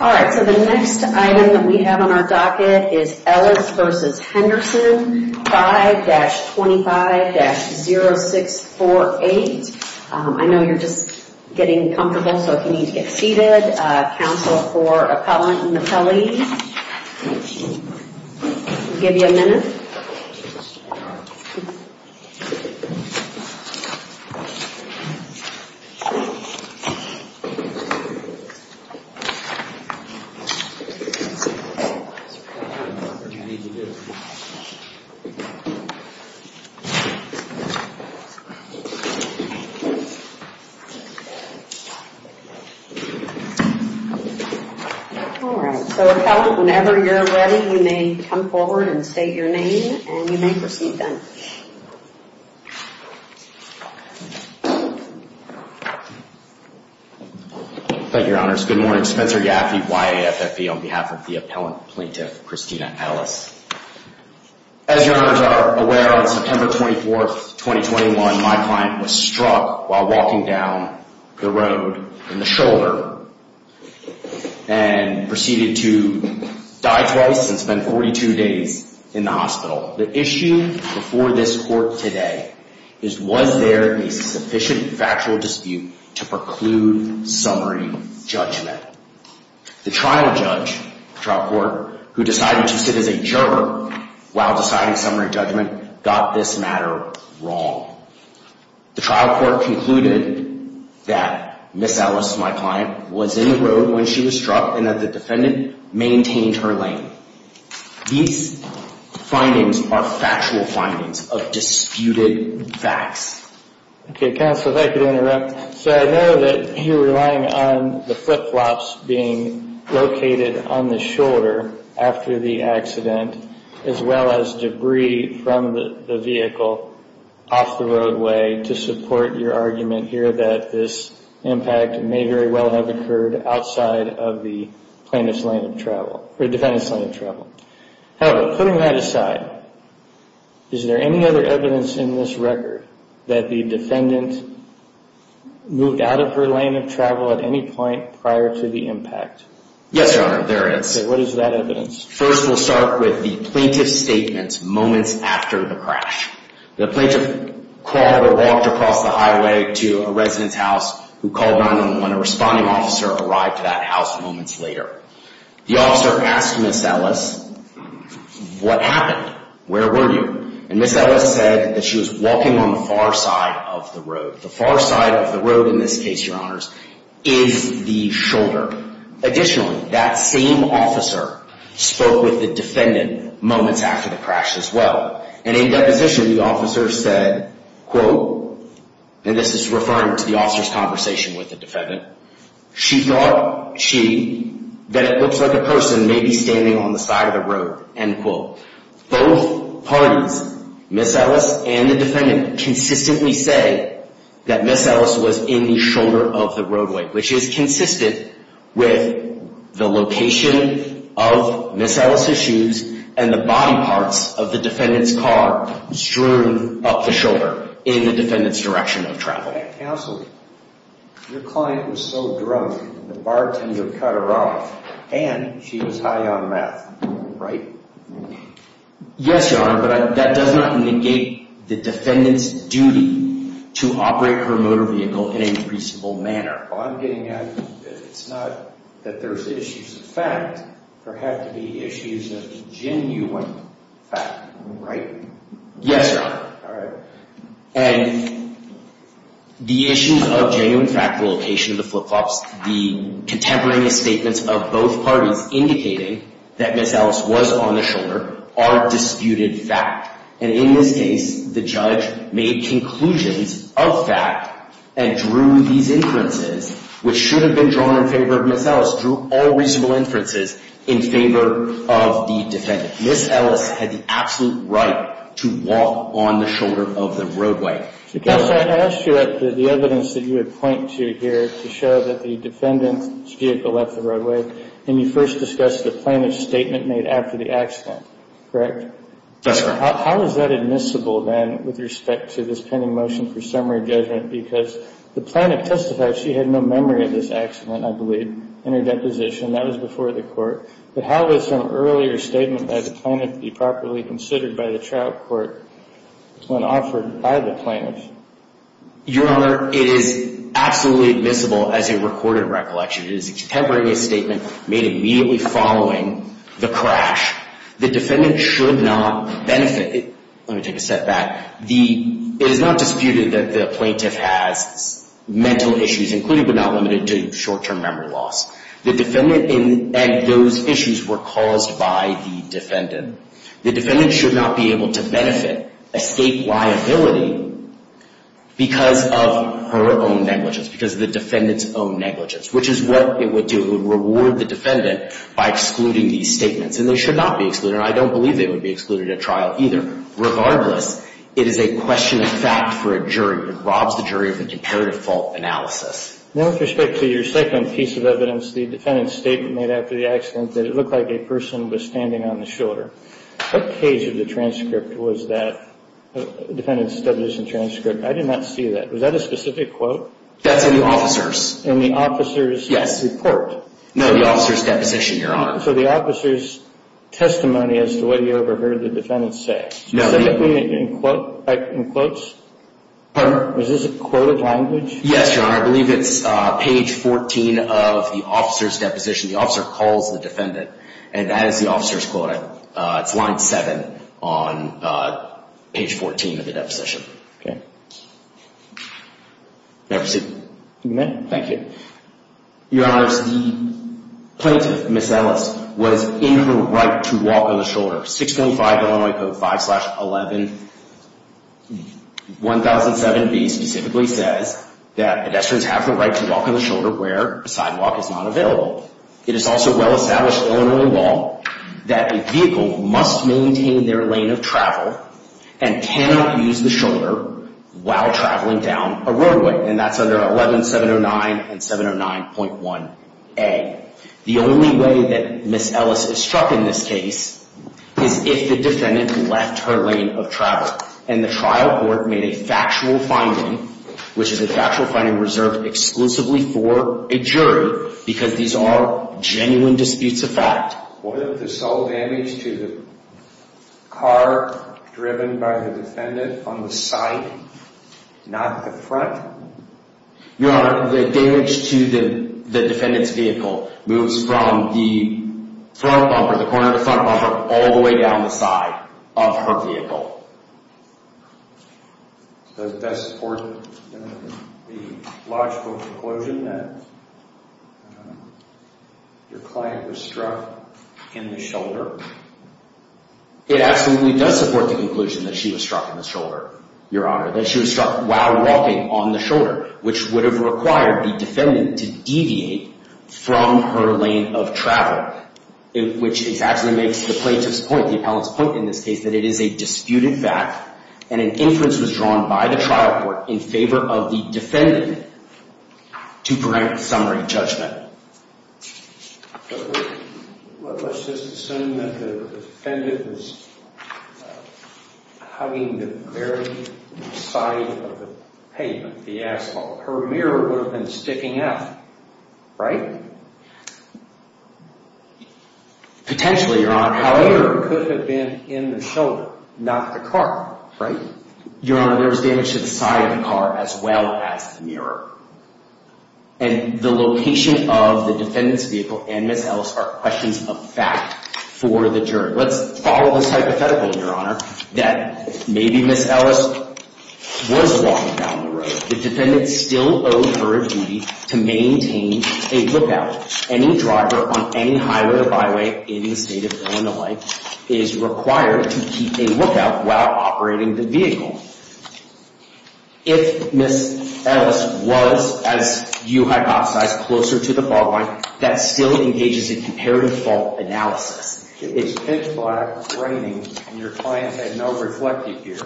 All right, so the next item that we have on our docket is Ellis v. Henderson 5-25-0648. I know you're just getting comfortable, so if you need to get seated, Council for Appellant and Appellees. We'll give you a minute. All right, so Appellant, whenever you're ready, you may come forward and state your name and you may proceed then. Thank you, Your Honors. Good morning. Spencer Yaffe, Y-A-F-F-E, on behalf of the Appellant Plaintiff, Christina Ellis. As Your Honors are aware, on September 24th, 2021, my client was struck while walking down the road in the shoulder and proceeded to die twice and spend 42 days in the hospital. The issue before this court today is was there a sufficient factual dispute to preclude summary judgment? The trial judge, the trial court, who decided to sit as a juror while deciding summary judgment, got this matter wrong. The trial court concluded that Ms. Ellis, my client, was in the road when she was struck and that the defendant maintained her lane. These findings are factual findings of disputed facts. Okay, counsel, if I could interrupt. So I know that you're relying on the flip-flops being located on the shoulder after the accident, as well as debris from the vehicle off the roadway to support your argument here that this impact may very well have occurred outside of the plaintiff's lane of travel, or defendant's lane of travel. However, putting that aside, is there any other evidence in this record that the defendant moved out of her lane of travel at any point prior to the impact? Yes, Your Honor, there is. Okay, what is that evidence? First, we'll start with the plaintiff's statement moments after the crash. The plaintiff crawled or walked across the highway to a residence house who called 911. A responding officer arrived at that house moments later. The officer asked Ms. Ellis, what happened? Where were you? And Ms. Ellis said that she was walking on the far side of the road. The far side of the road, in this case, Your Honors, is the shoulder. Additionally, that same officer spoke with the defendant moments after the crash as well. And in deposition, the officer said, quote, and this is referring to the officer's conversation with the defendant, she thought she, that it looks like a person may be standing on the side of the road, end quote. Both parties, Ms. Ellis and the defendant, consistently say that Ms. Ellis was in the shoulder of the roadway, which is consistent with the location of Ms. Ellis' shoes and the body parts of the defendant's car strewn up the shoulder in the defendant's direction of travel. Counsel, your client was so drunk, the bartender cut her off, and she was high on meth, right? Yes, Your Honor, but that does not negate the defendant's duty to operate her motor vehicle in a reasonable manner. Well, I'm getting at, it's not that there's issues of fact, there had to be issues of genuine fact, right? Yes, Your Honor. All right. And the issues of genuine fact, the location of the flip-flops, the contemporaneous statements of both parties, indicating that Ms. Ellis was on the shoulder, are disputed fact. And in this case, the judge made conclusions of fact and drew these inferences, which should have been drawn in favor of Ms. Ellis, drew all reasonable inferences in favor of the defendant. Ms. Ellis had the absolute right to walk on the shoulder of the roadway. Counsel, I asked you about the evidence that you had pointed to here to show that the defendant's vehicle left the roadway, and you first discussed the plaintiff's statement made after the accident, correct? That's correct. How is that admissible, then, with respect to this pending motion for summary judgment? Because the plaintiff testified she had no memory of this accident, I believe, in her deposition. That was before the court. But how would some earlier statement by the plaintiff be properly considered by the trial court when offered by the plaintiff? Your Honor, it is absolutely admissible as a recorded recollection. It is a contemporaneous statement made immediately following the crash. The defendant should not benefit. Let me take a step back. It is not disputed that the plaintiff has mental issues, including but not limited to short-term memory loss. The defendant and those issues were caused by the defendant. The defendant should not be able to benefit a state liability because of her own negligence, because of the defendant's own negligence, which is what it would do. It would reward the defendant by excluding these statements. And they should not be excluded. I don't believe they would be excluded at trial either. Regardless, it is a question of fact for a jury. It robs the jury of a comparative fault analysis. Now with respect to your second piece of evidence, the defendant's statement made after the accident, that it looked like a person was standing on the shoulder. What page of the transcript was that? Defendant's establishment transcript. I did not see that. Was that a specific quote? That's in the officer's. In the officer's report? Yes. No, the officer's deposition, Your Honor. So the officer's testimony as to what he overheard the defendant say? No. Specifically in quotes? Pardon? Was this a quoted language? Yes, Your Honor. I believe it's page 14 of the officer's deposition. The officer calls the defendant. And that is the officer's quote. It's line 7 on page 14 of the deposition. Okay. May I proceed? You may. Thank you. Your Honors, the plaintiff, Ms. Ellis, was in her right to walk on the shoulder. 6.5 Illinois Code 5-11-1007B specifically says that pedestrians have the right to walk on the shoulder where a sidewalk is not available. It is also well established in Illinois law that a vehicle must maintain their lane of travel and cannot use the shoulder while traveling down a roadway. And that's under 11709 and 709.1a. The only way that Ms. Ellis is struck in this case is if the defendant left her lane of travel. And the trial court made a factual finding, which is a factual finding reserved exclusively for a jury, because these are genuine disputes of fact. What of the sole damage to the car driven by the defendant on the side, not the front? Your Honor, the damage to the defendant's vehicle moves from the front bumper, the corner of the front bumper, all the way down the side of her vehicle. Does that support the logical conclusion that your client was struck in the shoulder? It absolutely does support the conclusion that she was struck in the shoulder, Your Honor, that she was struck while walking on the shoulder, which would have required the defendant to deviate from her lane of travel, which exactly makes the plaintiff's point, the appellant's point in this case, that it is a disputed fact and an inference was drawn by the trial court in favor of the defendant to grant a summary judgment. Let's just assume that the defendant was hugging the very side of the pavement, the asphalt. Her mirror would have been sticking out, right? Potentially, Your Honor. However, it could have been in the shoulder, not the car, right? Your Honor, there's damage to the side of the car as well as the mirror. And the location of the defendant's vehicle and Ms. Ellis are questions of fact for the jury. Let's follow this hypothetical, Your Honor, that maybe Ms. Ellis was walking down the road. The defendant still owed her a duty to maintain a lookout. Any driver on any highway or byway in the state of Illinois is required to keep a lookout while operating the vehicle. If Ms. Ellis was, as you hypothesized, closer to the fault line, that still engages in comparative fault analysis. It's pitch black, raining, and your client had no reflective gear,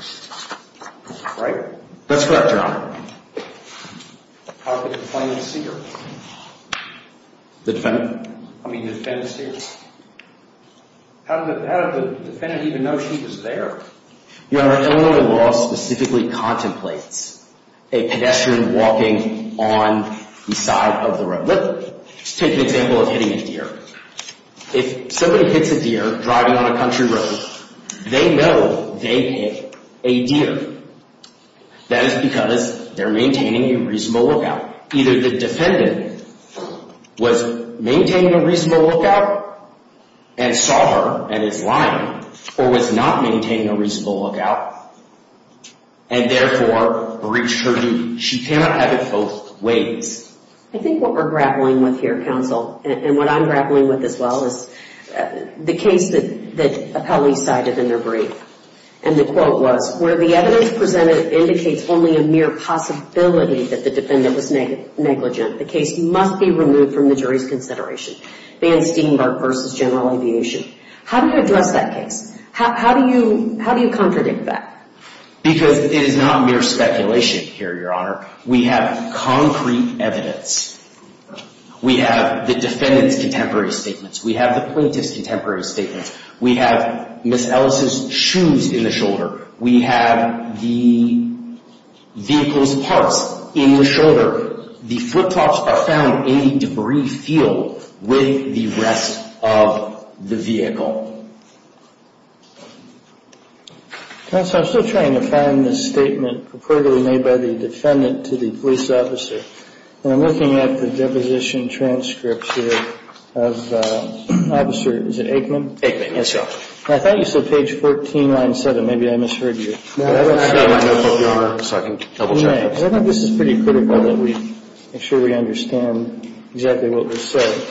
right? That's correct, Your Honor. How did the defendant see her? The defendant? I mean, the defendant see her? How did the defendant even know she was there? Your Honor, Illinois law specifically contemplates a pedestrian walking on the side of the road. Let's take the example of hitting a deer. If somebody hits a deer driving on a country road, they know they hit a deer. That is because they're maintaining a reasonable lookout. Either the defendant was maintaining a reasonable lookout and saw her and is lying, or was not maintaining a reasonable lookout and therefore breached her duty. She cannot have it both ways. I think what we're grappling with here, counsel, and what I'm grappling with as well, is the case that appellees cited in their brief. And the quote was, where the evidence presented indicates only a mere possibility that the defendant was negligent, the case must be removed from the jury's consideration. Van Steenburgh v. General Aviation. How do you address that case? How do you contradict that? Because it is not mere speculation here, Your Honor. We have concrete evidence. We have the defendant's contemporary statements. We have the plaintiff's contemporary statements. We have Ms. Ellis' shoes in the shoulder. We have the vehicle's parts in the shoulder. The flip-flops are found in the debris field with the rest of the vehicle. Counsel, I'm still trying to find the statement purportedly made by the defendant to the police officer. And I'm looking at the deposition transcript here of Officer, is it Aikman? Aikman, yes, Your Honor. I thought you said page 14, line 7. Maybe I misheard you. I have my notebook, Your Honor, so I can double-check. I think this is pretty critical that we make sure we understand exactly what was said.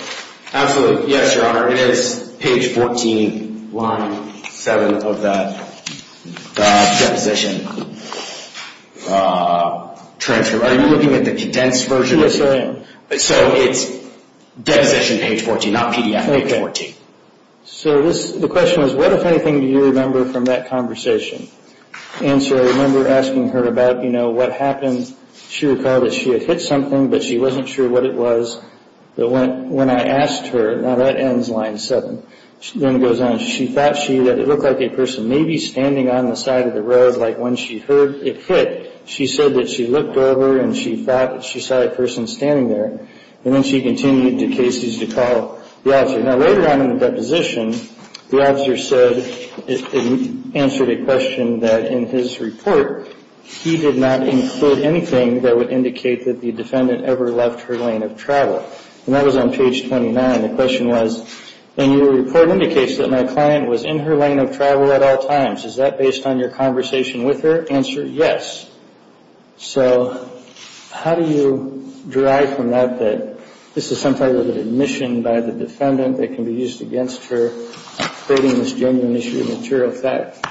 Absolutely. Yes, Your Honor. It is page 14, line 7 of that deposition transcript. Officer, are you looking at the condensed version? Yes, I am. So it's deposition page 14, not PDF page 14. Okay. So the question was, what, if anything, do you remember from that conversation? Answer, I remember asking her about, you know, what happened. She recalled that she had hit something, but she wasn't sure what it was. But when I asked her, now that ends line 7, then it goes on. She thought that it looked like a person maybe standing on the side of the road, like when she heard it hit, she said that she looked over and she thought that she saw a person standing there. And then she continued to Casey's to call the officer. Now, later on in the deposition, the officer said and answered a question that in his report, he did not include anything that would indicate that the defendant ever left her lane of travel. And that was on page 29. The question was, and your report indicates that my client was in her lane of travel at all times. Is that based on your conversation with her? Answer, yes. So how do you derive from that that this is some type of admission by the defendant that can be used against her creating this genuine issue of material fact?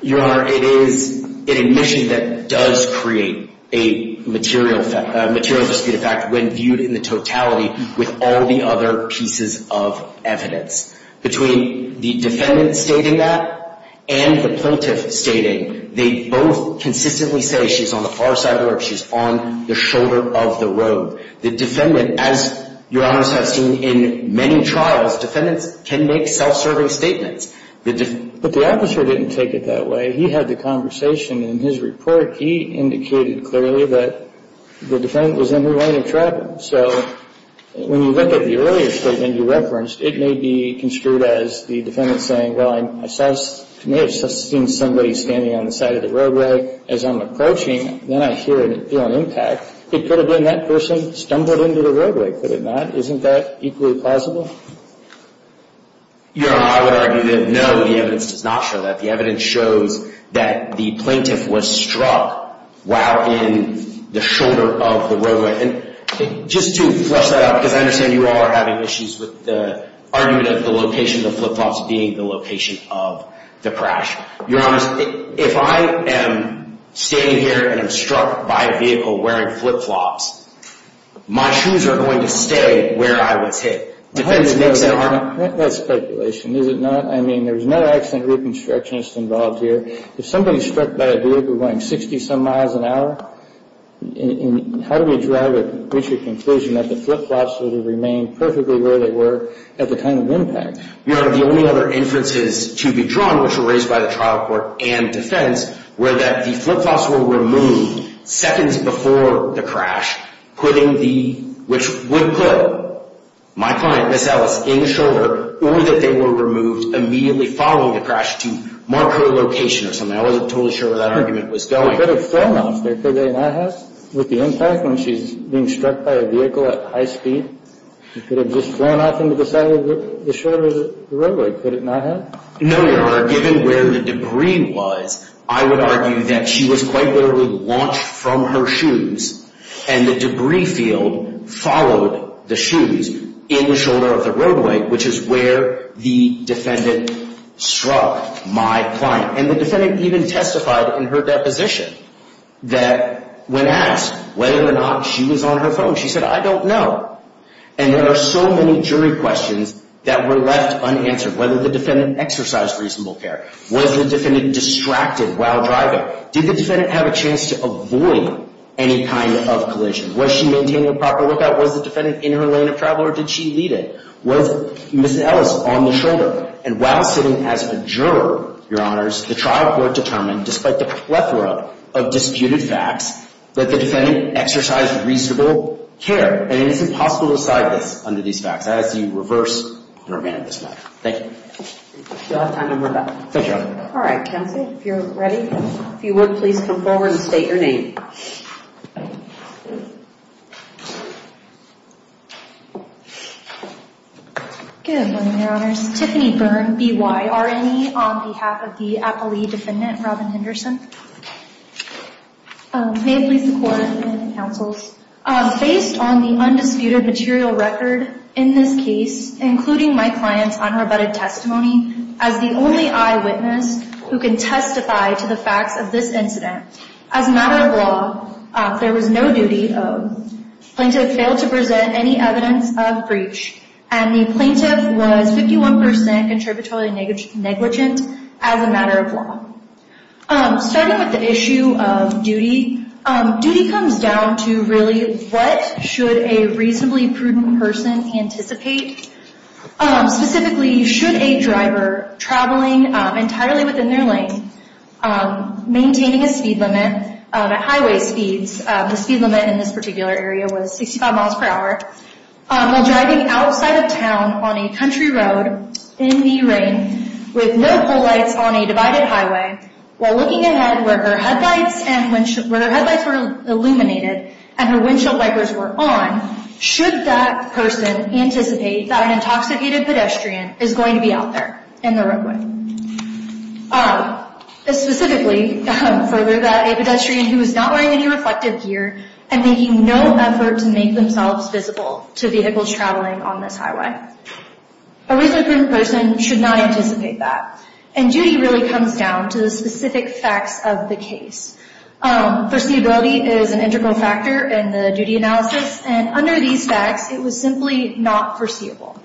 Your Honor, it is an admission that does create a material dispute of fact when viewed in the totality with all the other pieces of evidence. Between the defendant stating that and the plaintiff stating, they both consistently say she's on the far side of the road, she's on the shoulder of the road. The defendant, as Your Honors have seen in many trials, defendants can make self-serving statements. But the officer didn't take it that way. He had the conversation in his report. He indicated clearly that the defendant was in her lane of travel. So when you look at the earlier statement you referenced, it may be construed as the defendant saying, well, I may have seen somebody standing on the side of the roadway as I'm approaching. Then I hear and feel an impact. It could have been that person stumbled into the roadway, could it not? Isn't that equally plausible? Your Honor, I would argue that no, the evidence does not show that. The evidence shows that the plaintiff was struck while in the shoulder of the roadway. And just to flesh that out, because I understand you all are having issues with the argument of the location of the flip-flops being the location of the crash. Your Honors, if I am standing here and I'm struck by a vehicle wearing flip-flops, my shoes are going to stay where I was hit. That's speculation, is it not? I mean, there's no accident reconstructionists involved here. If somebody's struck by a vehicle going 60-some miles an hour, how do we draw to reach a conclusion that the flip-flops would have remained perfectly where they were at the time of impact? Your Honor, the only other inferences to be drawn, which were raised by the trial court and defense, were that the flip-flops were removed seconds before the crash, which would put my client, Ms. Ellis, in the shoulder, or that they were removed immediately following the crash to mark her location or something. I wasn't totally sure where that argument was going. Could it have flown off there? Could they not have? With the impact, when she's being struck by a vehicle at high speed, it could have just flown off into the side of the shoulder of the roadway. Could it not have? No, Your Honor. Given where the debris was, I would argue that she was quite literally launched from her shoes, and the debris field followed the shoes in the shoulder of the roadway, which is where the defendant struck my client. And the defendant even testified in her deposition that when asked whether or not she was on her phone, she said, I don't know. And there are so many jury questions that were left unanswered. Whether the defendant exercised reasonable care. Was the defendant distracted while driving? Did the defendant have a chance to avoid any kind of collision? Was she maintaining a proper lookout? Was the defendant in her lane of travel, or did she lead it? Was Ms. Ellis on the shoulder? And while sitting as a juror, Your Honors, the trial court determined, despite the plethora of disputed facts, that the defendant exercised reasonable care. And it is impossible to decide this under these facts. I ask that you reverse and revamp this matter. Thank you. You'll have time to revamp. Thank you, Your Honor. All right, counsel. If you're ready. If you would, please come forward and state your name. Good morning, Your Honors. Tiffany Byrne, B-Y-R-N-E, on behalf of the appellee defendant, Robin Henderson. May it please the Court and the counsels. Based on the undisputed material record in this case, including my client's unrebutted testimony, as the only eyewitness who can testify to the facts of this incident, as a matter of law, there was no duty owed. The plaintiff failed to present any evidence of breach, and the plaintiff was 51% interpretatively negligent as a matter of law. Starting with the issue of duty, duty comes down to really what should a reasonably prudent person anticipate. Specifically, should a driver traveling entirely within their lane, maintaining a speed limit at highway speeds, the speed limit in this particular area was 65 miles per hour, while driving outside of town on a country road in the rain, with no pole lights on a divided highway, while looking ahead where her headlights were illuminated and her windshield wipers were on, should that person anticipate that an intoxicated pedestrian is going to be out there in the roadway. Specifically, for a pedestrian who is not wearing any reflective gear and making no effort to make themselves visible to vehicles traveling on this highway. A reasonably prudent person should not anticipate that. And duty really comes down to the specific facts of the case. Foreseeability is an integral factor in the duty analysis, and under these facts, it was simply not foreseeable.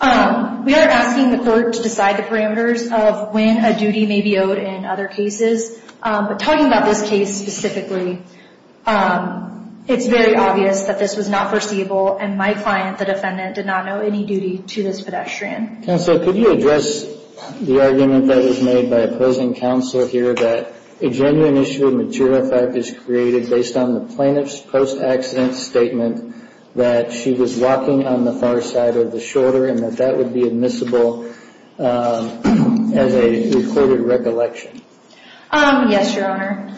We are asking the court to decide the parameters of when a duty may be owed in other cases, but talking about this case specifically, it's very obvious that this was not foreseeable, and my client, the defendant, did not know any duty to this pedestrian. Counsel, could you address the argument that was made by opposing counsel here that a genuine issue of material fact is created based on the plaintiff's post-accident statement that she was walking on the far side of the shoulder and that that would be admissible as a recorded recollection? Yes, Your Honor.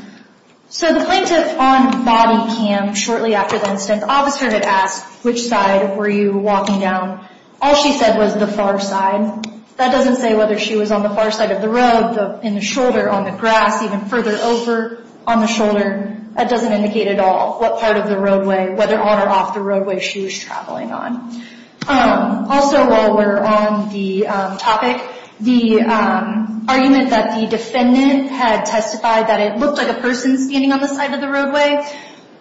So the plaintiff on body cam shortly after the incident, the officer had asked, which side were you walking down? All she said was the far side. That doesn't say whether she was on the far side of the road, in the shoulder, on the grass, even further over on the shoulder. That doesn't indicate at all what part of the roadway, whether on or off the roadway, she was traveling on. Also while we're on the topic, the argument that the defendant had testified that it looked like a person standing on the side of the roadway,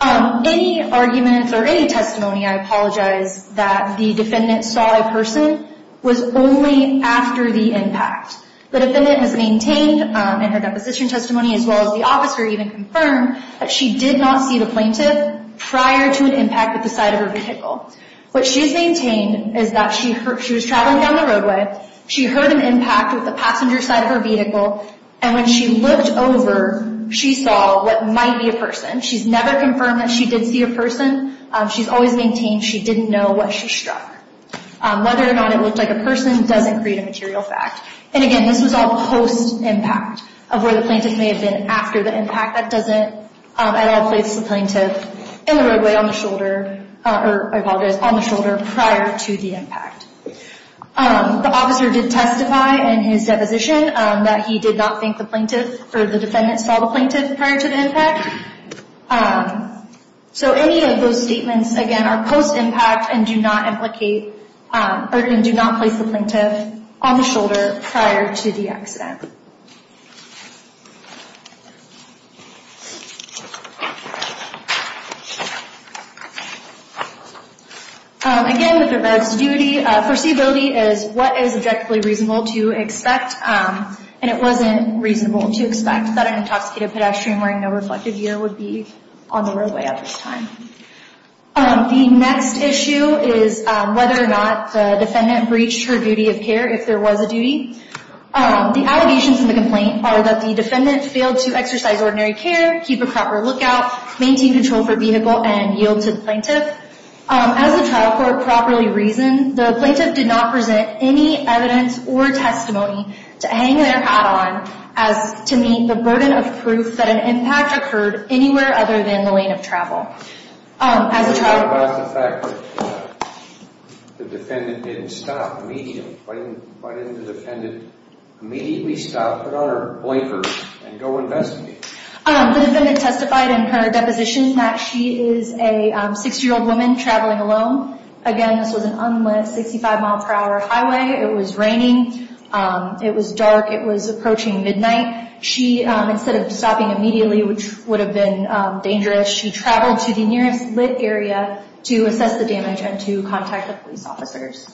any argument or any testimony, I apologize, that the defendant saw a person was only after the impact. The defendant has maintained in her deposition testimony as well as the officer even confirmed that she did not see the plaintiff prior to an impact at the side of her vehicle. What she's maintained is that she was traveling down the roadway, she heard an impact with the passenger side of her vehicle, and when she looked over, she saw what might be a person. She's never confirmed that she did see a person. She's always maintained she didn't know what she struck. Whether or not it looked like a person doesn't create a material fact. And again, this was all post-impact of where the plaintiff may have been after the impact. That doesn't at all place the plaintiff in the roadway on the shoulder, or I apologize, on the shoulder prior to the impact. The officer did testify in his deposition that he did not think the plaintiff or the defendant saw the plaintiff prior to the impact. So any of those statements, again, are post-impact and do not place the plaintiff on the shoulder prior to the accident. Again, with regards to duty, foreseeability is what is objectively reasonable to expect, and it wasn't reasonable to expect that an intoxicated pedestrian wearing no reflective gear would be on the roadway at this time. The next issue is whether or not the defendant breached her duty of care if there was a duty. The allegations in the complaint are that the defendant failed to exercise ordinary care, keep a proper lookout, maintain control of her vehicle, and yield to the plaintiff. As the trial court properly reasoned, the plaintiff did not present any evidence or testimony to hang their hat on as to meet the burden of proof that an impact occurred anywhere other than the lane of travel. The defendant testified in her deposition that she is a 6-year-old woman traveling alone. Again, this was an unlit 65-mile per hour highway. It was raining. It was dark. It was approaching midnight. Instead of stopping immediately, which would have been dangerous, she traveled to the nearest lit area to assess the damage and to contact the police officers.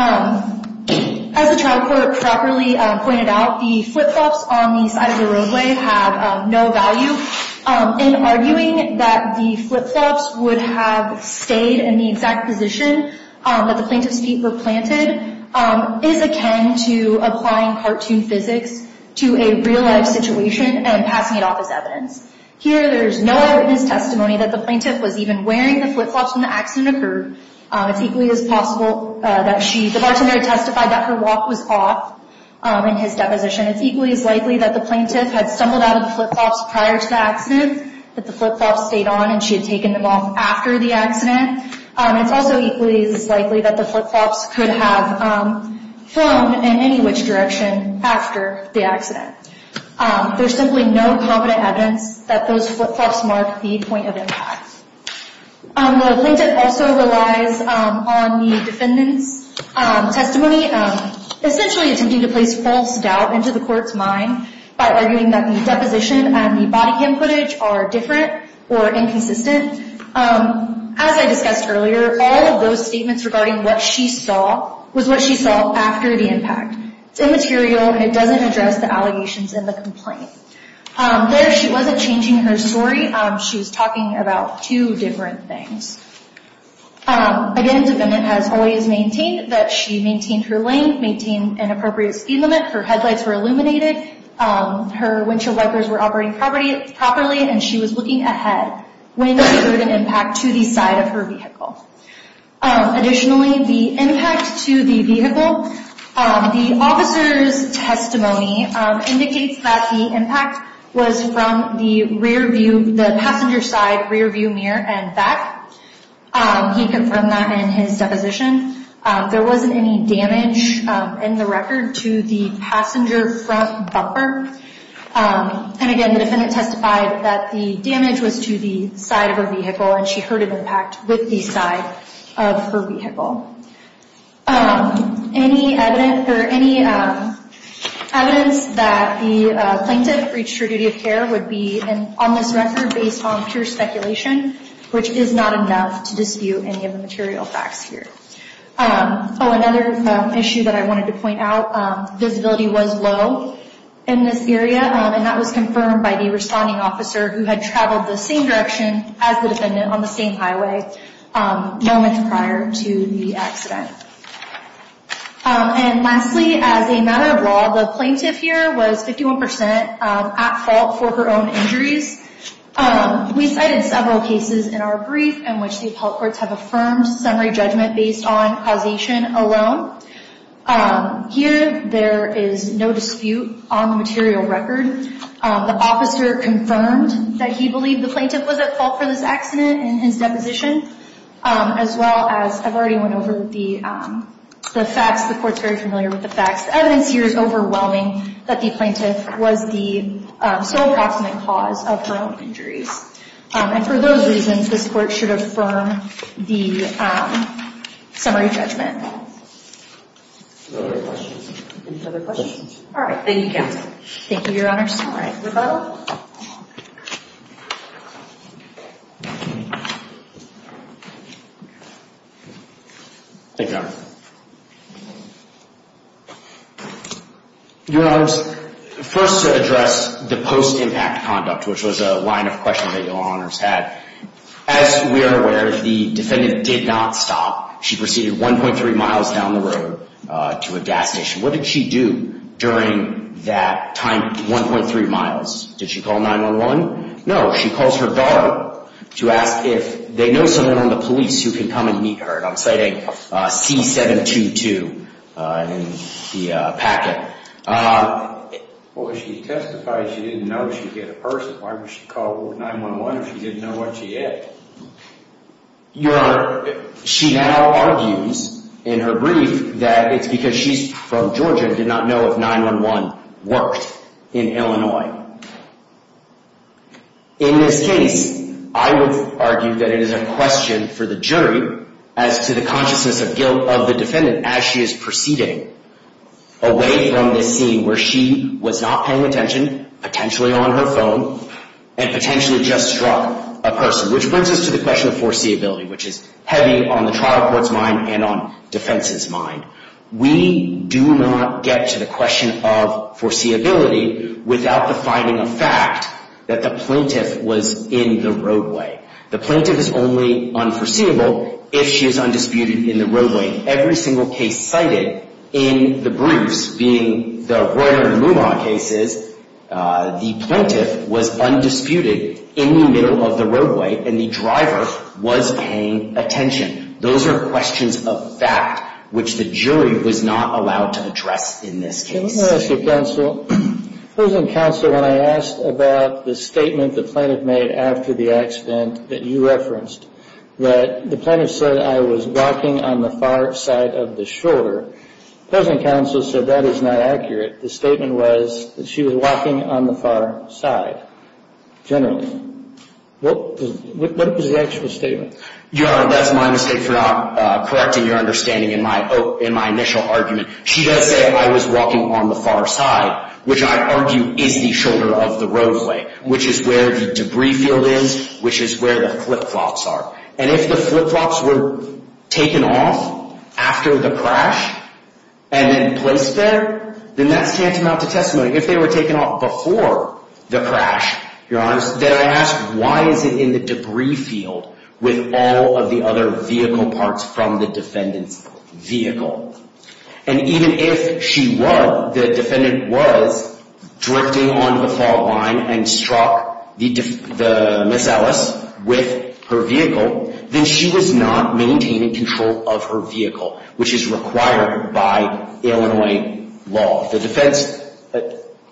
As the trial court properly pointed out, the flip-flops on the side of the roadway have no value. In arguing that the flip-flops would have stayed in the exact position that the plaintiff's feet were planted is akin to applying cartoon physics to a real-life situation and passing it off as evidence. Here, there is no evidence or testimony that the plaintiff was even wearing the flip-flops when the accident occurred. It's equally as possible that the bartender testified that her walk was off in his deposition. It's equally as likely that the plaintiff had stumbled out of the flip-flops prior to the accident, that the flip-flops stayed on and she had taken them off after the accident. It's also equally as likely that the flip-flops could have flown in any which direction after the accident. There's simply no competent evidence that those flip-flops mark the point of impact. The plaintiff also relies on the defendant's testimony, essentially attempting to place false doubt into the court's mind by arguing that the deposition and the body cam footage are different or inconsistent. As I discussed earlier, all of those statements regarding what she saw was what she saw after the impact. It's immaterial and it doesn't address the allegations in the complaint. There, she wasn't changing her story. She was talking about two different things. Again, the defendant has always maintained that she maintained her lane, maintained an appropriate speed limit, her headlights were illuminated, her windshield wipers were operating properly, and she was looking ahead. When she heard an impact to the side of her vehicle. Additionally, the impact to the vehicle, the officer's testimony indicates that the impact was from the rear view, the passenger side rear view mirror and back. He confirmed that in his deposition. There wasn't any damage in the record to the passenger front bumper. And again, the defendant testified that the damage was to the side of her vehicle and she heard an impact with the side of her vehicle. Any evidence that the plaintiff breached her duty of care would be on this record based on pure speculation, which is not enough to dispute any of the material facts here. Another issue that I wanted to point out, visibility was low. In this area, and that was confirmed by the responding officer who had traveled the same direction as the defendant on the same highway moments prior to the accident. And lastly, as a matter of law, the plaintiff here was 51% at fault for her own injuries. We cited several cases in our brief in which the appellate courts have affirmed summary judgment based on causation alone. Here, there is no dispute on the material record. The officer confirmed that he believed the plaintiff was at fault for this accident in his deposition, as well as, I've already went over the facts. The court's very familiar with the facts. The evidence here is overwhelming that the plaintiff was the sole approximate cause of her own injuries. And for those reasons, this court should affirm the summary judgment. Any further questions? All right. Thank you, counsel. Thank you, Your Honors. All right. Rebuttal. Thank you, Your Honor. Your Honors, first to address the post-impact conduct, which was a line of questions that Your Honors had. As we are aware, the defendant did not stop. She proceeded 1.3 miles down the road to a gas station. What did she do during that time, 1.3 miles? Did she call 911? No, she calls her daughter to ask if they know someone on the police who can come and meet her. And I'm citing C-722 in the packet. Well, she testified she didn't know if she'd get a person. Why would she call 911 if she didn't know what she had? Your Honor, she now argues in her brief that it's because she's from Georgia and did not know if 911 worked in Illinois. In this case, I would argue that it is a question for the jury as to the consciousness of guilt of the defendant as she is proceeding away from this scene where she was not paying attention, potentially on her phone, and potentially just struck a person, which brings us to the question of foreseeability, which is heavy on the trial court's mind and on defense's mind. We do not get to the question of foreseeability without the finding of fact that the plaintiff was in the roadway. The plaintiff is only unforeseeable if she is undisputed in the roadway. Every single case cited in the briefs, being the Royer and Luman cases, the plaintiff was undisputed in the middle of the roadway, and the driver was paying attention. Those are questions of fact which the jury was not allowed to address in this case. Let me ask you, counsel. Counsel, when I asked about the statement the plaintiff made after the accident that you referenced, that the plaintiff said, I was walking on the far side of the shoulder, counsel said that is not accurate. The statement was that she was walking on the far side, generally. What was the actual statement? Your Honor, that's my mistake for not correcting your understanding in my initial argument. She does say I was walking on the far side, which I argue is the shoulder of the roadway, which is where the debris field is, which is where the flip-flops are. And if the flip-flops were taken off after the crash and then placed there, then that's tantamount to testimony. If they were taken off before the crash, Your Honor, then I ask why is it in the debris field with all of the other vehicle parts from the defendant's vehicle? And even if she were, the defendant was, drifting on the fault line and struck Miss Ellis with her vehicle, then she was not maintaining control of her vehicle, which is required by Illinois law. The defense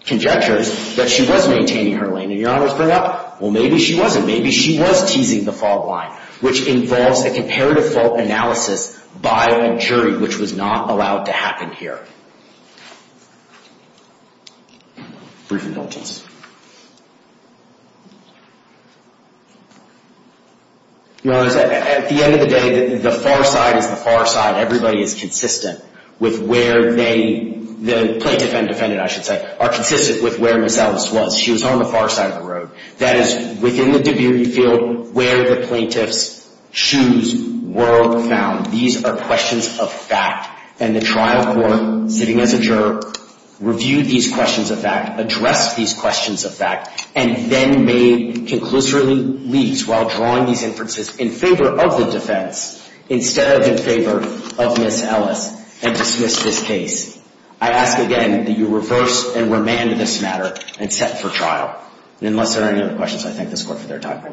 conjectures that she was maintaining her lane. And Your Honor is bringing up, well, maybe she wasn't. So maybe she was teasing the fault line, which involves a comparative fault analysis by a jury, which was not allowed to happen here. Briefing notes. Your Honor, at the end of the day, the far side is the far side. Everybody is consistent with where they, the plaintiff and defendant, I should say, are consistent with where Miss Ellis was. She was on the far side of the road. That is within the debris field where the plaintiff's shoes were found. These are questions of fact. And the trial court, sitting as a juror, reviewed these questions of fact, addressed these questions of fact, and then made conclusively leads while drawing these inferences in favor of the defense instead of in favor of Miss Ellis, and dismissed this case. I ask again that you reverse and remand this matter and set for trial. And unless there are any other questions, I thank this court for their time.